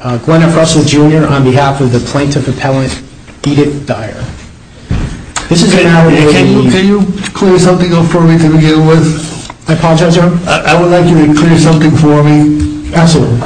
Gwyneth Russell Jr. on behalf of the Plaintiff Appellant, Edith Dyer. Can you clear something up for me to begin with? I apologize, Your Honor. I would like you to clear something for me. Absolutely.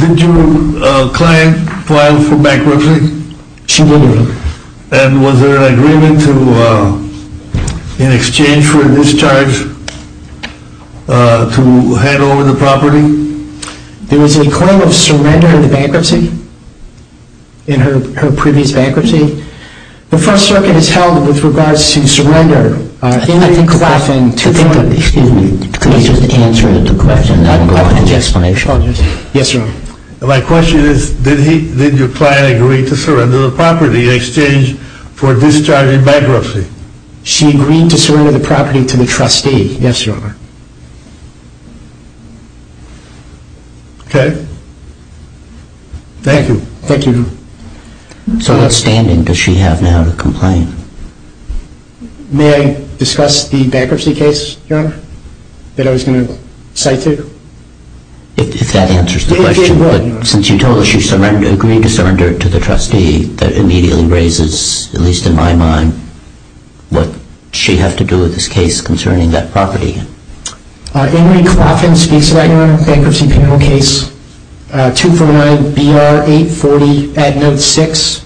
Did your client file for bankruptcy? She did, Your Honor. And was there an agreement in exchange for a discharge to hand over the property? There was a claim of surrender in the bankruptcy, in her previous bankruptcy. The First Circuit has held with regards to surrender. Excuse me, could you just answer the question? I don't have an explanation. Yes, Your Honor. My question is, did your client agree to surrender the property in exchange for a discharge in bankruptcy? She agreed to surrender the property to the trustee. Yes, Your Honor. Okay. Thank you. Thank you, Your Honor. So what standing does she have now to complain? May I discuss the bankruptcy case, Your Honor, that I was going to cite to you? If that answers the question. Since you told us she agreed to surrender it to the trustee, that immediately raises, at least in my mind, what she has to do with this case concerning that property. Ingrid Coffin speaks about your bankruptcy criminal case, 249-BR-840, ad note 6.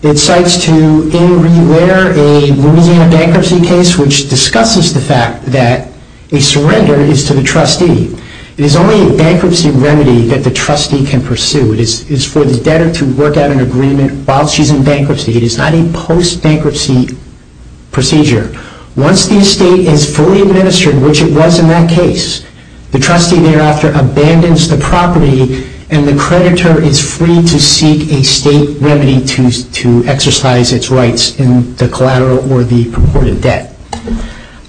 It cites to Ingrid Ware a Louisiana bankruptcy case which discusses the fact that a surrender is to the trustee. It is only a bankruptcy remedy that the trustee can pursue. It is for the debtor to work out an agreement while she's in bankruptcy. It is not a post-bankruptcy procedure. Once the estate is fully administered, which it was in that case, the trustee thereafter abandons the property and the creditor is free to seek a state remedy to exercise its rights in the collateral or the purported debt.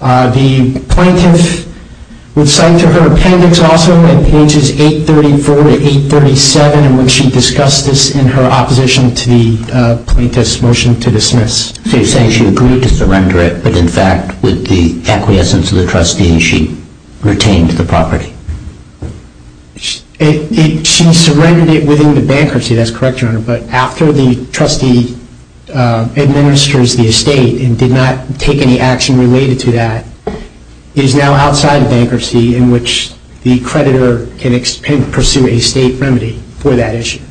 The plaintiff would cite to her appendix also in pages 834 to 837 in which she discussed this in her opposition to the plaintiff's motion to dismiss. So you're saying she agreed to surrender it, but in fact, with the acquiescence of the trustee, she retained the property. She surrendered it within the bankruptcy, that's correct, Your Honor, but after the trustee administers the estate and did not take any action related to that, it is now outside of bankruptcy in which the creditor can pursue a state remedy for that issue.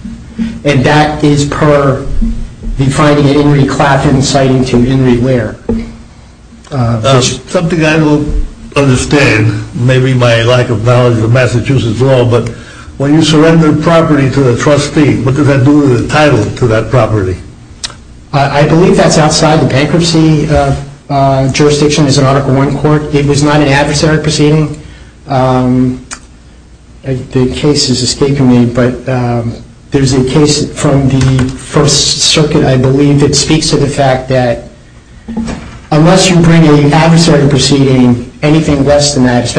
And that is per the finding of Ingrid Clafton citing to Ingrid Ware. Something I don't understand, maybe my lack of knowledge of Massachusetts law, but when you surrender property to the trustee, what does that do to the title to that property? I believe that's outside the bankruptcy jurisdiction as an Article I court. It was not an adversary proceeding. The case is escaping me, but there's a case from the First Circuit, I believe, that speaks to the fact that unless you bring an adversary proceeding, anything less than that,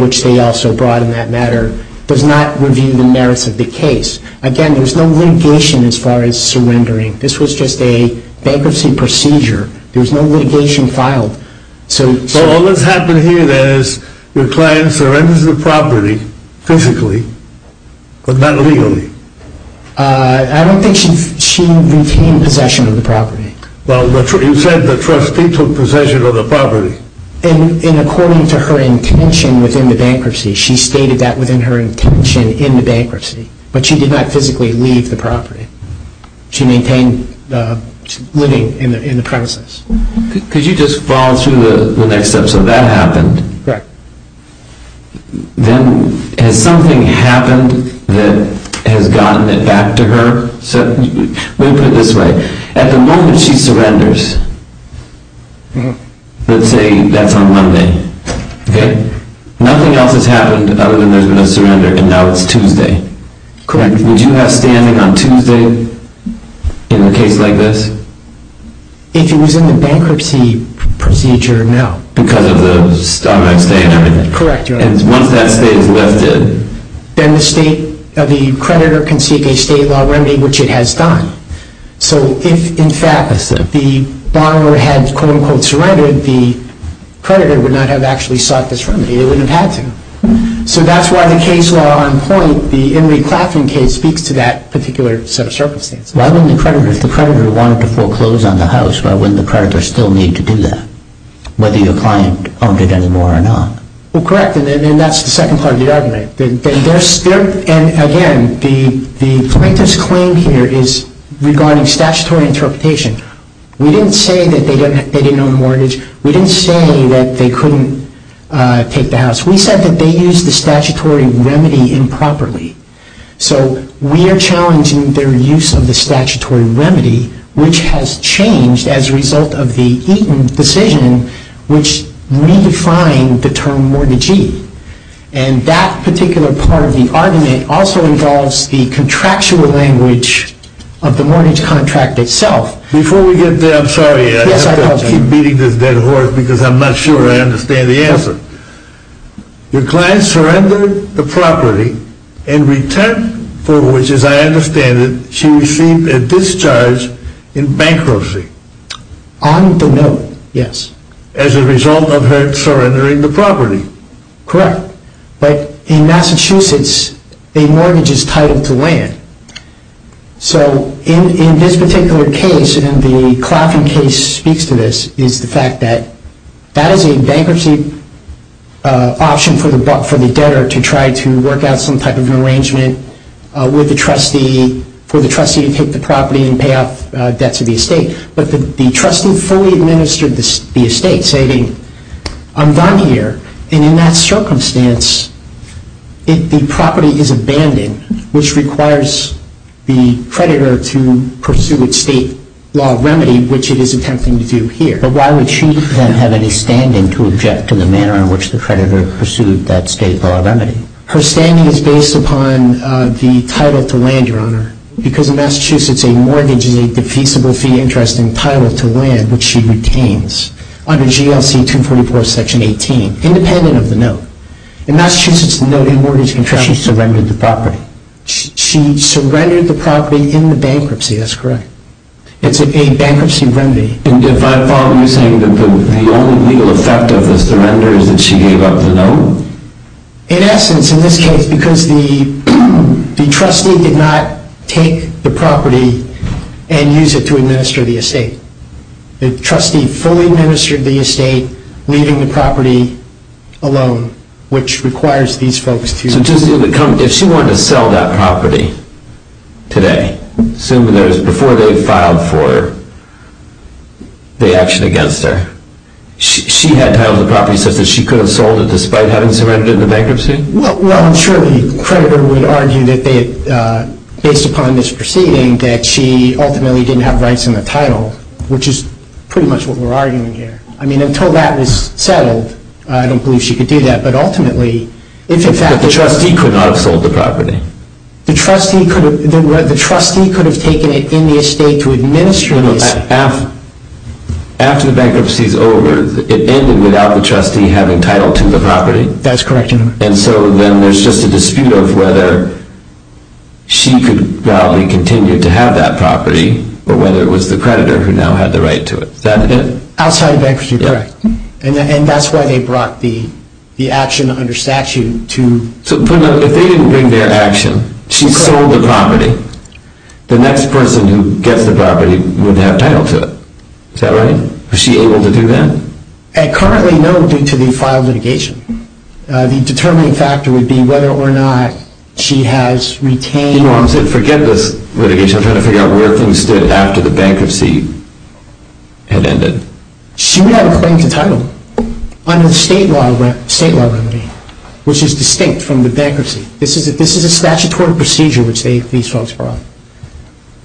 which they also brought in that matter, does not review the merits of the case. Again, there's no litigation as far as surrendering. This was just a bankruptcy procedure. There's no litigation filed. So all that's happened here then is your client surrenders the property physically, but not legally. I don't think she retained possession of the property. Well, you said the trustee took possession of the property. And according to her intention within the bankruptcy, she stated that within her intention in the bankruptcy, but she did not physically leave the property. She maintained living in the premises. Could you just follow through the next step? So that happened. Correct. Then has something happened that has gotten it back to her? Let me put it this way. At the moment she surrenders, let's say that's on Monday, nothing else has happened other than there's been a surrender, and now it's Tuesday. Correct. Would you have standing on Tuesday in a case like this? If it was in the bankruptcy procedure, no. Because of the Starbucks day and everything? Correct. And once that stay is lifted? Then the creditor can seek a state law remedy, which it has done. So if, in fact, the borrower had, quote, unquote, surrendered, the creditor would not have actually sought this remedy. They wouldn't have had to. So that's why the case law on point, the Henry Claflin case, speaks to that particular set of circumstances. Why wouldn't the creditor, if the creditor wanted to foreclose on the house, why wouldn't the creditor still need to do that, whether your client owned it anymore or not? Correct. And that's the second part of the argument. And, again, the plaintiff's claim here is regarding statutory interpretation. We didn't say that they didn't own the mortgage. We didn't say that they couldn't take the house. We said that they used the statutory remedy improperly. So we are challenging their use of the statutory remedy, which has changed as a result of the Eaton decision, which redefined the term mortgagee. And that particular part of the argument also involves the contractual language of the mortgage contract itself. Before we get there, I'm sorry. Yes, I apologize. I have to keep beating this dead horse because I'm not sure I understand the answer. Your client surrendered the property in return for which, as I understand it, she received a discharge in bankruptcy. On the note, yes. As a result of her surrendering the property. Correct. But in Massachusetts, a mortgage is titled to land. So in this particular case, and the Clafton case speaks to this, is the fact that that is a bankruptcy option for the debtor to try to work out some type of an arrangement for the trustee to take the property and pay off debts of the estate. But the trustee fully administered the estate, stating, I'm done here. And in that circumstance, the property is abandoned, which requires the creditor to pursue its state law of remedy, which it is attempting to do here. But why would she then have any standing to object to the manner in which the creditor pursued that state law of remedy? Her standing is based upon the title to land, Your Honor. Because in Massachusetts, a mortgage is a defeasible fee interest in title to land, which she retains under GLC 244, Section 18, independent of the note. In Massachusetts, the note, a mortgage, in fact, she surrendered the property. She surrendered the property in the bankruptcy. That's correct. It's a bankruptcy remedy. And if I'm following you saying that the only legal effect of the surrender is that she gave up the note? In essence, in this case, because the trustee did not take the property and use it to administer the estate. The trustee fully administered the estate, leaving the property alone, which requires these folks to So if she wanted to sell that property today, assuming that it was before they filed for the action against her, she had title of the property such that she could have sold it despite having surrendered it in the bankruptcy? Well, surely the creditor would argue that based upon this proceeding that she ultimately didn't have rights in the title, which is pretty much what we're arguing here. I mean, until that was settled, I don't believe she could do that. But ultimately, if in fact the trustee could not have sold the property. The trustee could have taken it in the estate to administer this. After the bankruptcy is over, it ended without the trustee having title to the property? That's correct. And so then there's just a dispute of whether she could probably continue to have that property, or whether it was the creditor who now had the right to it. Outside of bankruptcy, correct. And that's why they brought the action under statute to The next person who gets the property would have title to it. Is that right? Was she able to do that? At currently no, due to the filed litigation. The determining factor would be whether or not she has retained... You know, I'm saying forget this litigation. I'm trying to figure out where things stood after the bankruptcy had ended. She would have a claim to title under the state law remedy, which is distinct from the bankruptcy. This is a statutory procedure which these folks brought.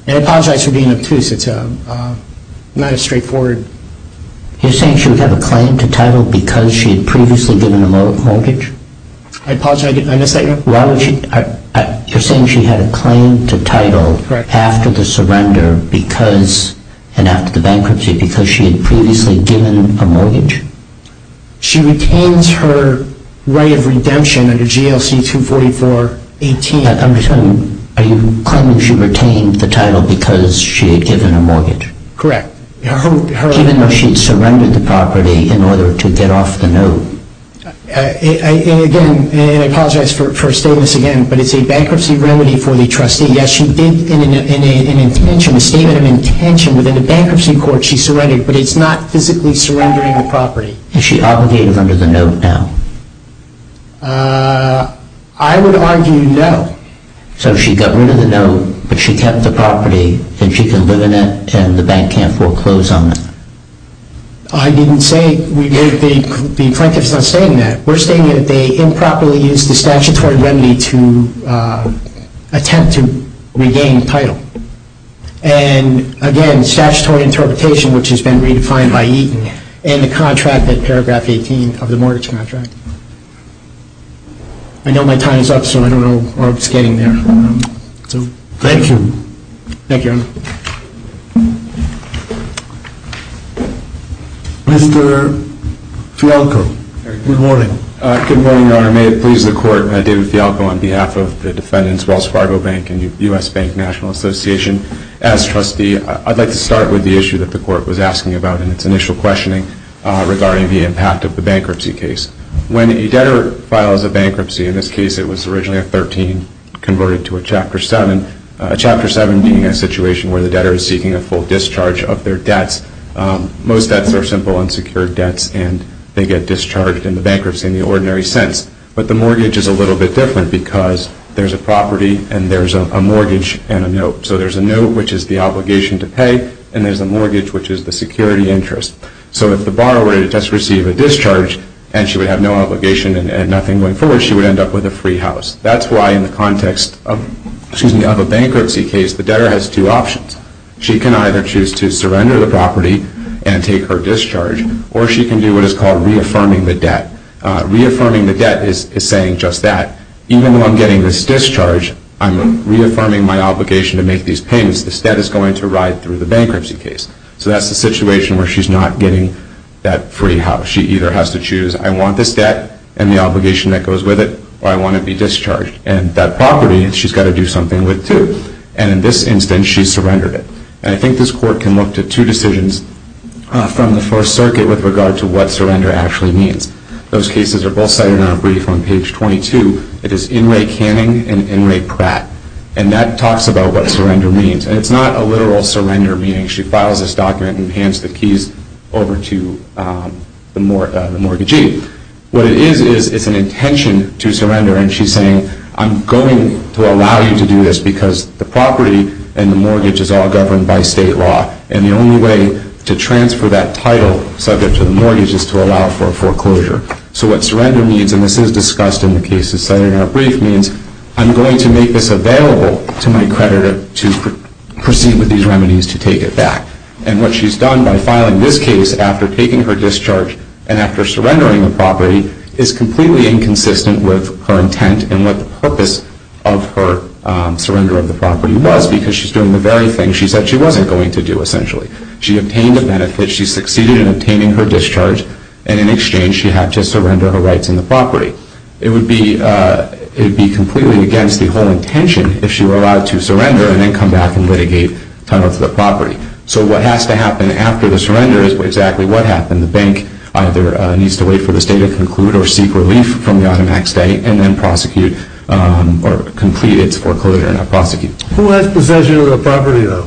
And I apologize for being obtuse. It's not as straightforward. You're saying she would have a claim to title because she had previously given a mortgage? I apologize, I missed that. You're saying she had a claim to title after the surrender and after the bankruptcy because she had previously given a mortgage? She retains her right of redemption under GLC 244-18. I'm just wondering, are you claiming she retained the title because she had given a mortgage? Correct. Even though she had surrendered the property in order to get off the note? Again, and I apologize for stating this again, but it's a bankruptcy remedy for the trustee. Yes, she did in an intention, a statement of intention within a bankruptcy court, that she surrendered, but it's not physically surrendering the property. Is she obligated under the note now? I would argue no. So she got rid of the note, but she kept the property, and she can live in it, and the bank can't foreclose on it? I didn't say, the plaintiff's not saying that. We're stating that they improperly used the statutory remedy to attempt to regain title. And again, statutory interpretation, which has been redefined by Eaton, and the contract at paragraph 18 of the mortgage contract. I know my time is up, so I don't know where I was getting there. Thank you. Thank you, Your Honor. Mr. Fialco, good morning. Good morning, Your Honor. May it please the Court, David Fialco on behalf of the defendants, Wells Fargo Bank and U.S. Bank National Association. As trustee, I'd like to start with the issue that the Court was asking about in its initial questioning regarding the impact of the bankruptcy case. When a debtor files a bankruptcy, in this case it was originally a 13, converted to a Chapter 7, a Chapter 7 being a situation where the debtor is seeking a full discharge of their debts. Most debts are simple, unsecured debts, and they get discharged in the bankruptcy in the ordinary sense. But the mortgage is a little bit different because there's a property and there's a mortgage and a note. So there's a note, which is the obligation to pay, and there's a mortgage, which is the security interest. So if the borrower were to just receive a discharge and she would have no obligation and nothing going forward, she would end up with a free house. That's why in the context of a bankruptcy case, the debtor has two options. She can either choose to surrender the property and take her discharge, or she can do what is called reaffirming the debt. Reaffirming the debt is saying just that, even though I'm getting this discharge, I'm reaffirming my obligation to make these payments. This debt is going to ride through the bankruptcy case. So that's the situation where she's not getting that free house. She either has to choose, I want this debt and the obligation that goes with it, or I want to be discharged. And that property, she's got to do something with, too. And in this instance, she surrendered it. And I think this Court can look to two decisions from the First Circuit with regard to what surrender actually means. Those cases are both cited in our brief on page 22. It is Inouye Canning and Inouye Pratt. And that talks about what surrender means. And it's not a literal surrender, meaning she files this document and hands the keys over to the mortgagee. What it is, is it's an intention to surrender. And she's saying, I'm going to allow you to do this because the property and the mortgage is all governed by state law. And the only way to transfer that title subject to the mortgage is to allow for a foreclosure. So what surrender means, and this is discussed in the cases cited in our brief, means I'm going to make this available to my creditor to proceed with these remedies to take it back. And what she's done by filing this case after taking her discharge and after surrendering the property is completely inconsistent with her intent and what the purpose of her surrender of the property was because she's doing the very thing. She said she wasn't going to do, essentially. She obtained a benefit. She succeeded in obtaining her discharge. And in exchange, she had to surrender her rights in the property. It would be completely against the whole intention if she were allowed to surrender and then come back and litigate title to the property. So what has to happen after the surrender is exactly what happened. The bank either needs to wait for the state to conclude or seek relief from the automatic stay and then prosecute or complete its foreclosure, not prosecute. Who has possession of the property, though?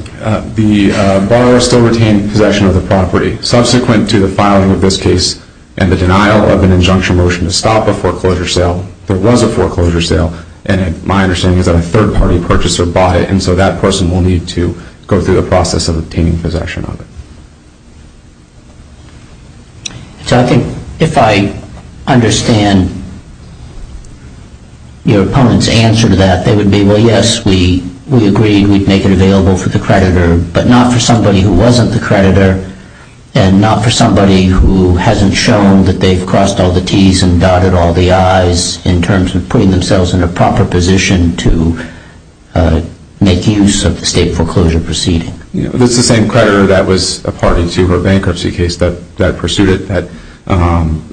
The borrower still retaining possession of the property subsequent to the filing of this case and the denial of an injunction motion to stop a foreclosure sale. There was a foreclosure sale and my understanding is that a third party purchased or bought it and so that person will need to go through the process of obtaining possession of it. So I think if I understand your opponent's answer to that, they would be, well, yes, we agreed we'd make it available for the creditor, but not for somebody who wasn't the creditor and not for somebody who hasn't shown that they've crossed all the T's and dotted all the I's in terms of putting themselves in a proper position to make use of the state foreclosure proceeding. That's the same creditor that was a party to her bankruptcy case that pursued it, that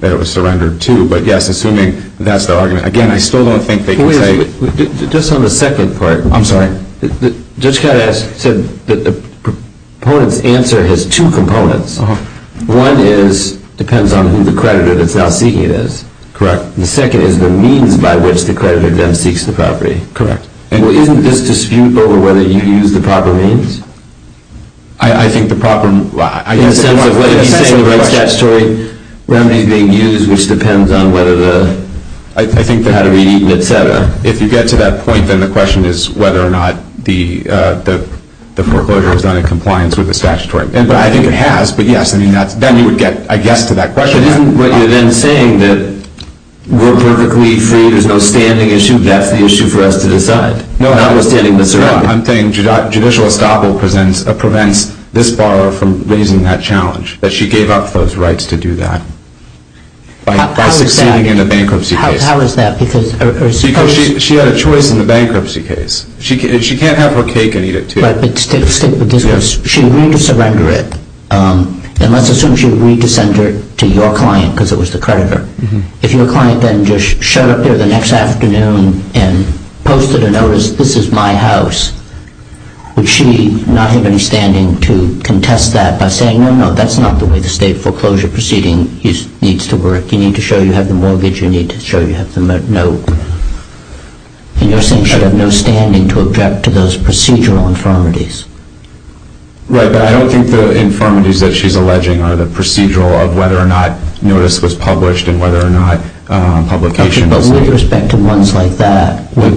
it was surrendered to. But yes, assuming that's the argument. Again, I still don't think they can say... Wait a minute. Just on the second part. I'm sorry. Judge Kaddas said that the opponent's answer has two components. One is, depends on who the creditor that's now seeking it is. Correct. The second is the means by which the creditor then seeks the property. Correct. And isn't this dispute over whether you use the proper means? I think the proper... In the sense of what he's saying about statutory remedies being used which depends on whether the... I think that... How to read Eaton, et cetera. If you get to that point, then the question is whether or not the foreclosure is done in compliance with the statutory... But I think it has. But yes, then you would get, I guess, to that question. But isn't what you're then saying that we're perfectly free, there's no standing issue, that's the issue for us to decide? Not withstanding the surrender. No, I'm saying judicial estoppel prevents this borrower from raising that challenge, that she gave up those rights to do that by succeeding in a bankruptcy case. How is that? Because she had a choice in the bankruptcy case. She can't have her cake and eat it too. But stick with this. She agreed to surrender it. And let's assume she agreed to send it to your client because it was the creditor. If your client then just showed up there the next afternoon and posted a notice, this is my house, would she not have any standing to contest that by saying, No, no, no, that's not the way the state foreclosure proceeding needs to work. You need to show you have the mortgage, you need to show you have the note. And you're saying she'd have no standing to object to those procedural infirmities. Right, but I don't think the infirmities that she's alleging are the procedural of whether or not notice was published and whether or not publication was... But with respect to ones like that, would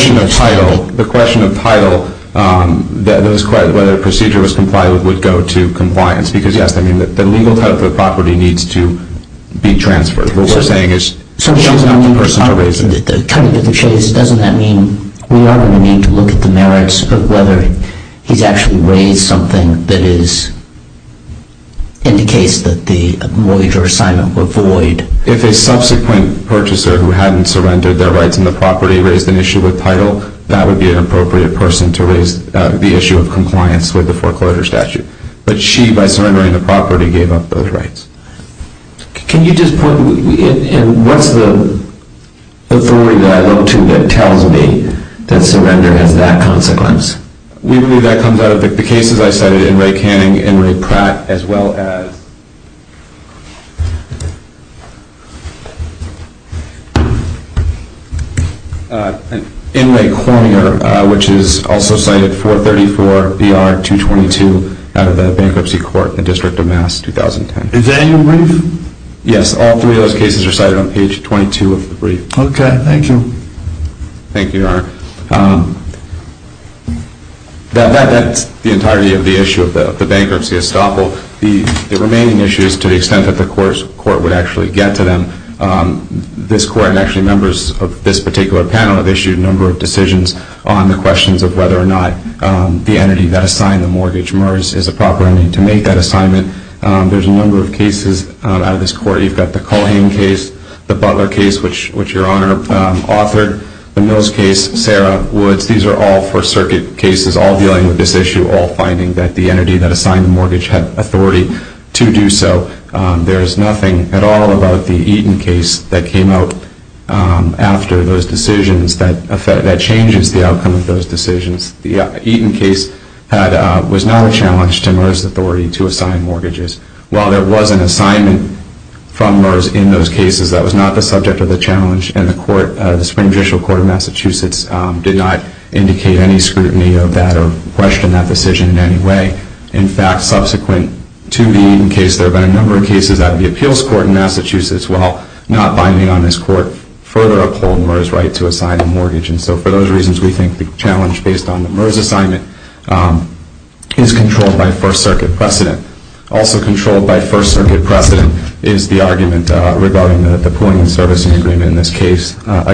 she have standing? The question of title, whether a procedure was complied with would go to compliance because, yes, the legal title of the property needs to be transferred. What we're saying is she's not the person to raise it. Cutting to the chase, doesn't that mean we are going to need to look at the merits of whether he's actually raised something that indicates that the mortgage or assignment were void? If a subsequent purchaser who hadn't surrendered their rights in the property raised an issue with title, that would be an appropriate person to raise the issue of compliance with the foreclosure statute. But she, by surrendering the property, gave up those rights. Can you just point... And what's the authority that I look to that tells me that surrender has that consequence? We believe that comes out of the cases I cited, in Ray Canning, in Ray Pratt, as well as... In Ray Cormier, which is also cited 434 BR 222 out of the Bankruptcy Court in the District of Mass, 2010. Is that in your brief? Yes, all three of those cases are cited on page 22 of the brief. Okay, thank you. Thank you, Your Honor. That's the entirety of the issue of the bankruptcy estoppel. The remaining issues, to the extent that the court would actually get to them, this court, and actually members of this particular panel, have issued a number of decisions on the questions of whether or not the entity that assigned the mortgage, MERS, is a proper entity to make that assignment. There's a number of cases out of this court. You've got the Culhane case, the Butler case, which Your Honor authored, the Mills case, Sarah Woods. These are all First Circuit cases, all dealing with this issue, all finding that the entity that assigned the mortgage had authority to do so. There's nothing at all about the Eaton case that came out after those decisions that changes the outcome of those decisions. The Eaton case was not a challenge to MERS authority to assign mortgages. While there was an assignment from MERS in those cases, that was not the subject of the challenge, and the Supreme Judicial Court of Massachusetts did not indicate any scrutiny of that or question that decision in any way. In fact, subsequent to the Eaton case, there have been a number of cases at the appeals court in Massachusetts while not binding on this court, further upholding MERS' right to assign a mortgage. And so for those reasons, we think the challenge, based on the MERS assignment, is controlled by First Circuit precedent. Also controlled by First Circuit precedent is the argument regarding the pooling and servicing agreement in this case. all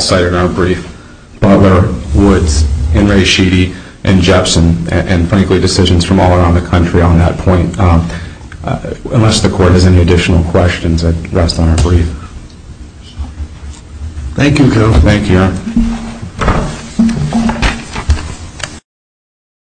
cited in our brief. Butler, Woods, Henry, Sheedy, and Jepson, and frankly decisions from all around the country on that point. Unless the court has any additional questions, I'd rest on our brief. Thank you, Joe. Thank you, Aaron.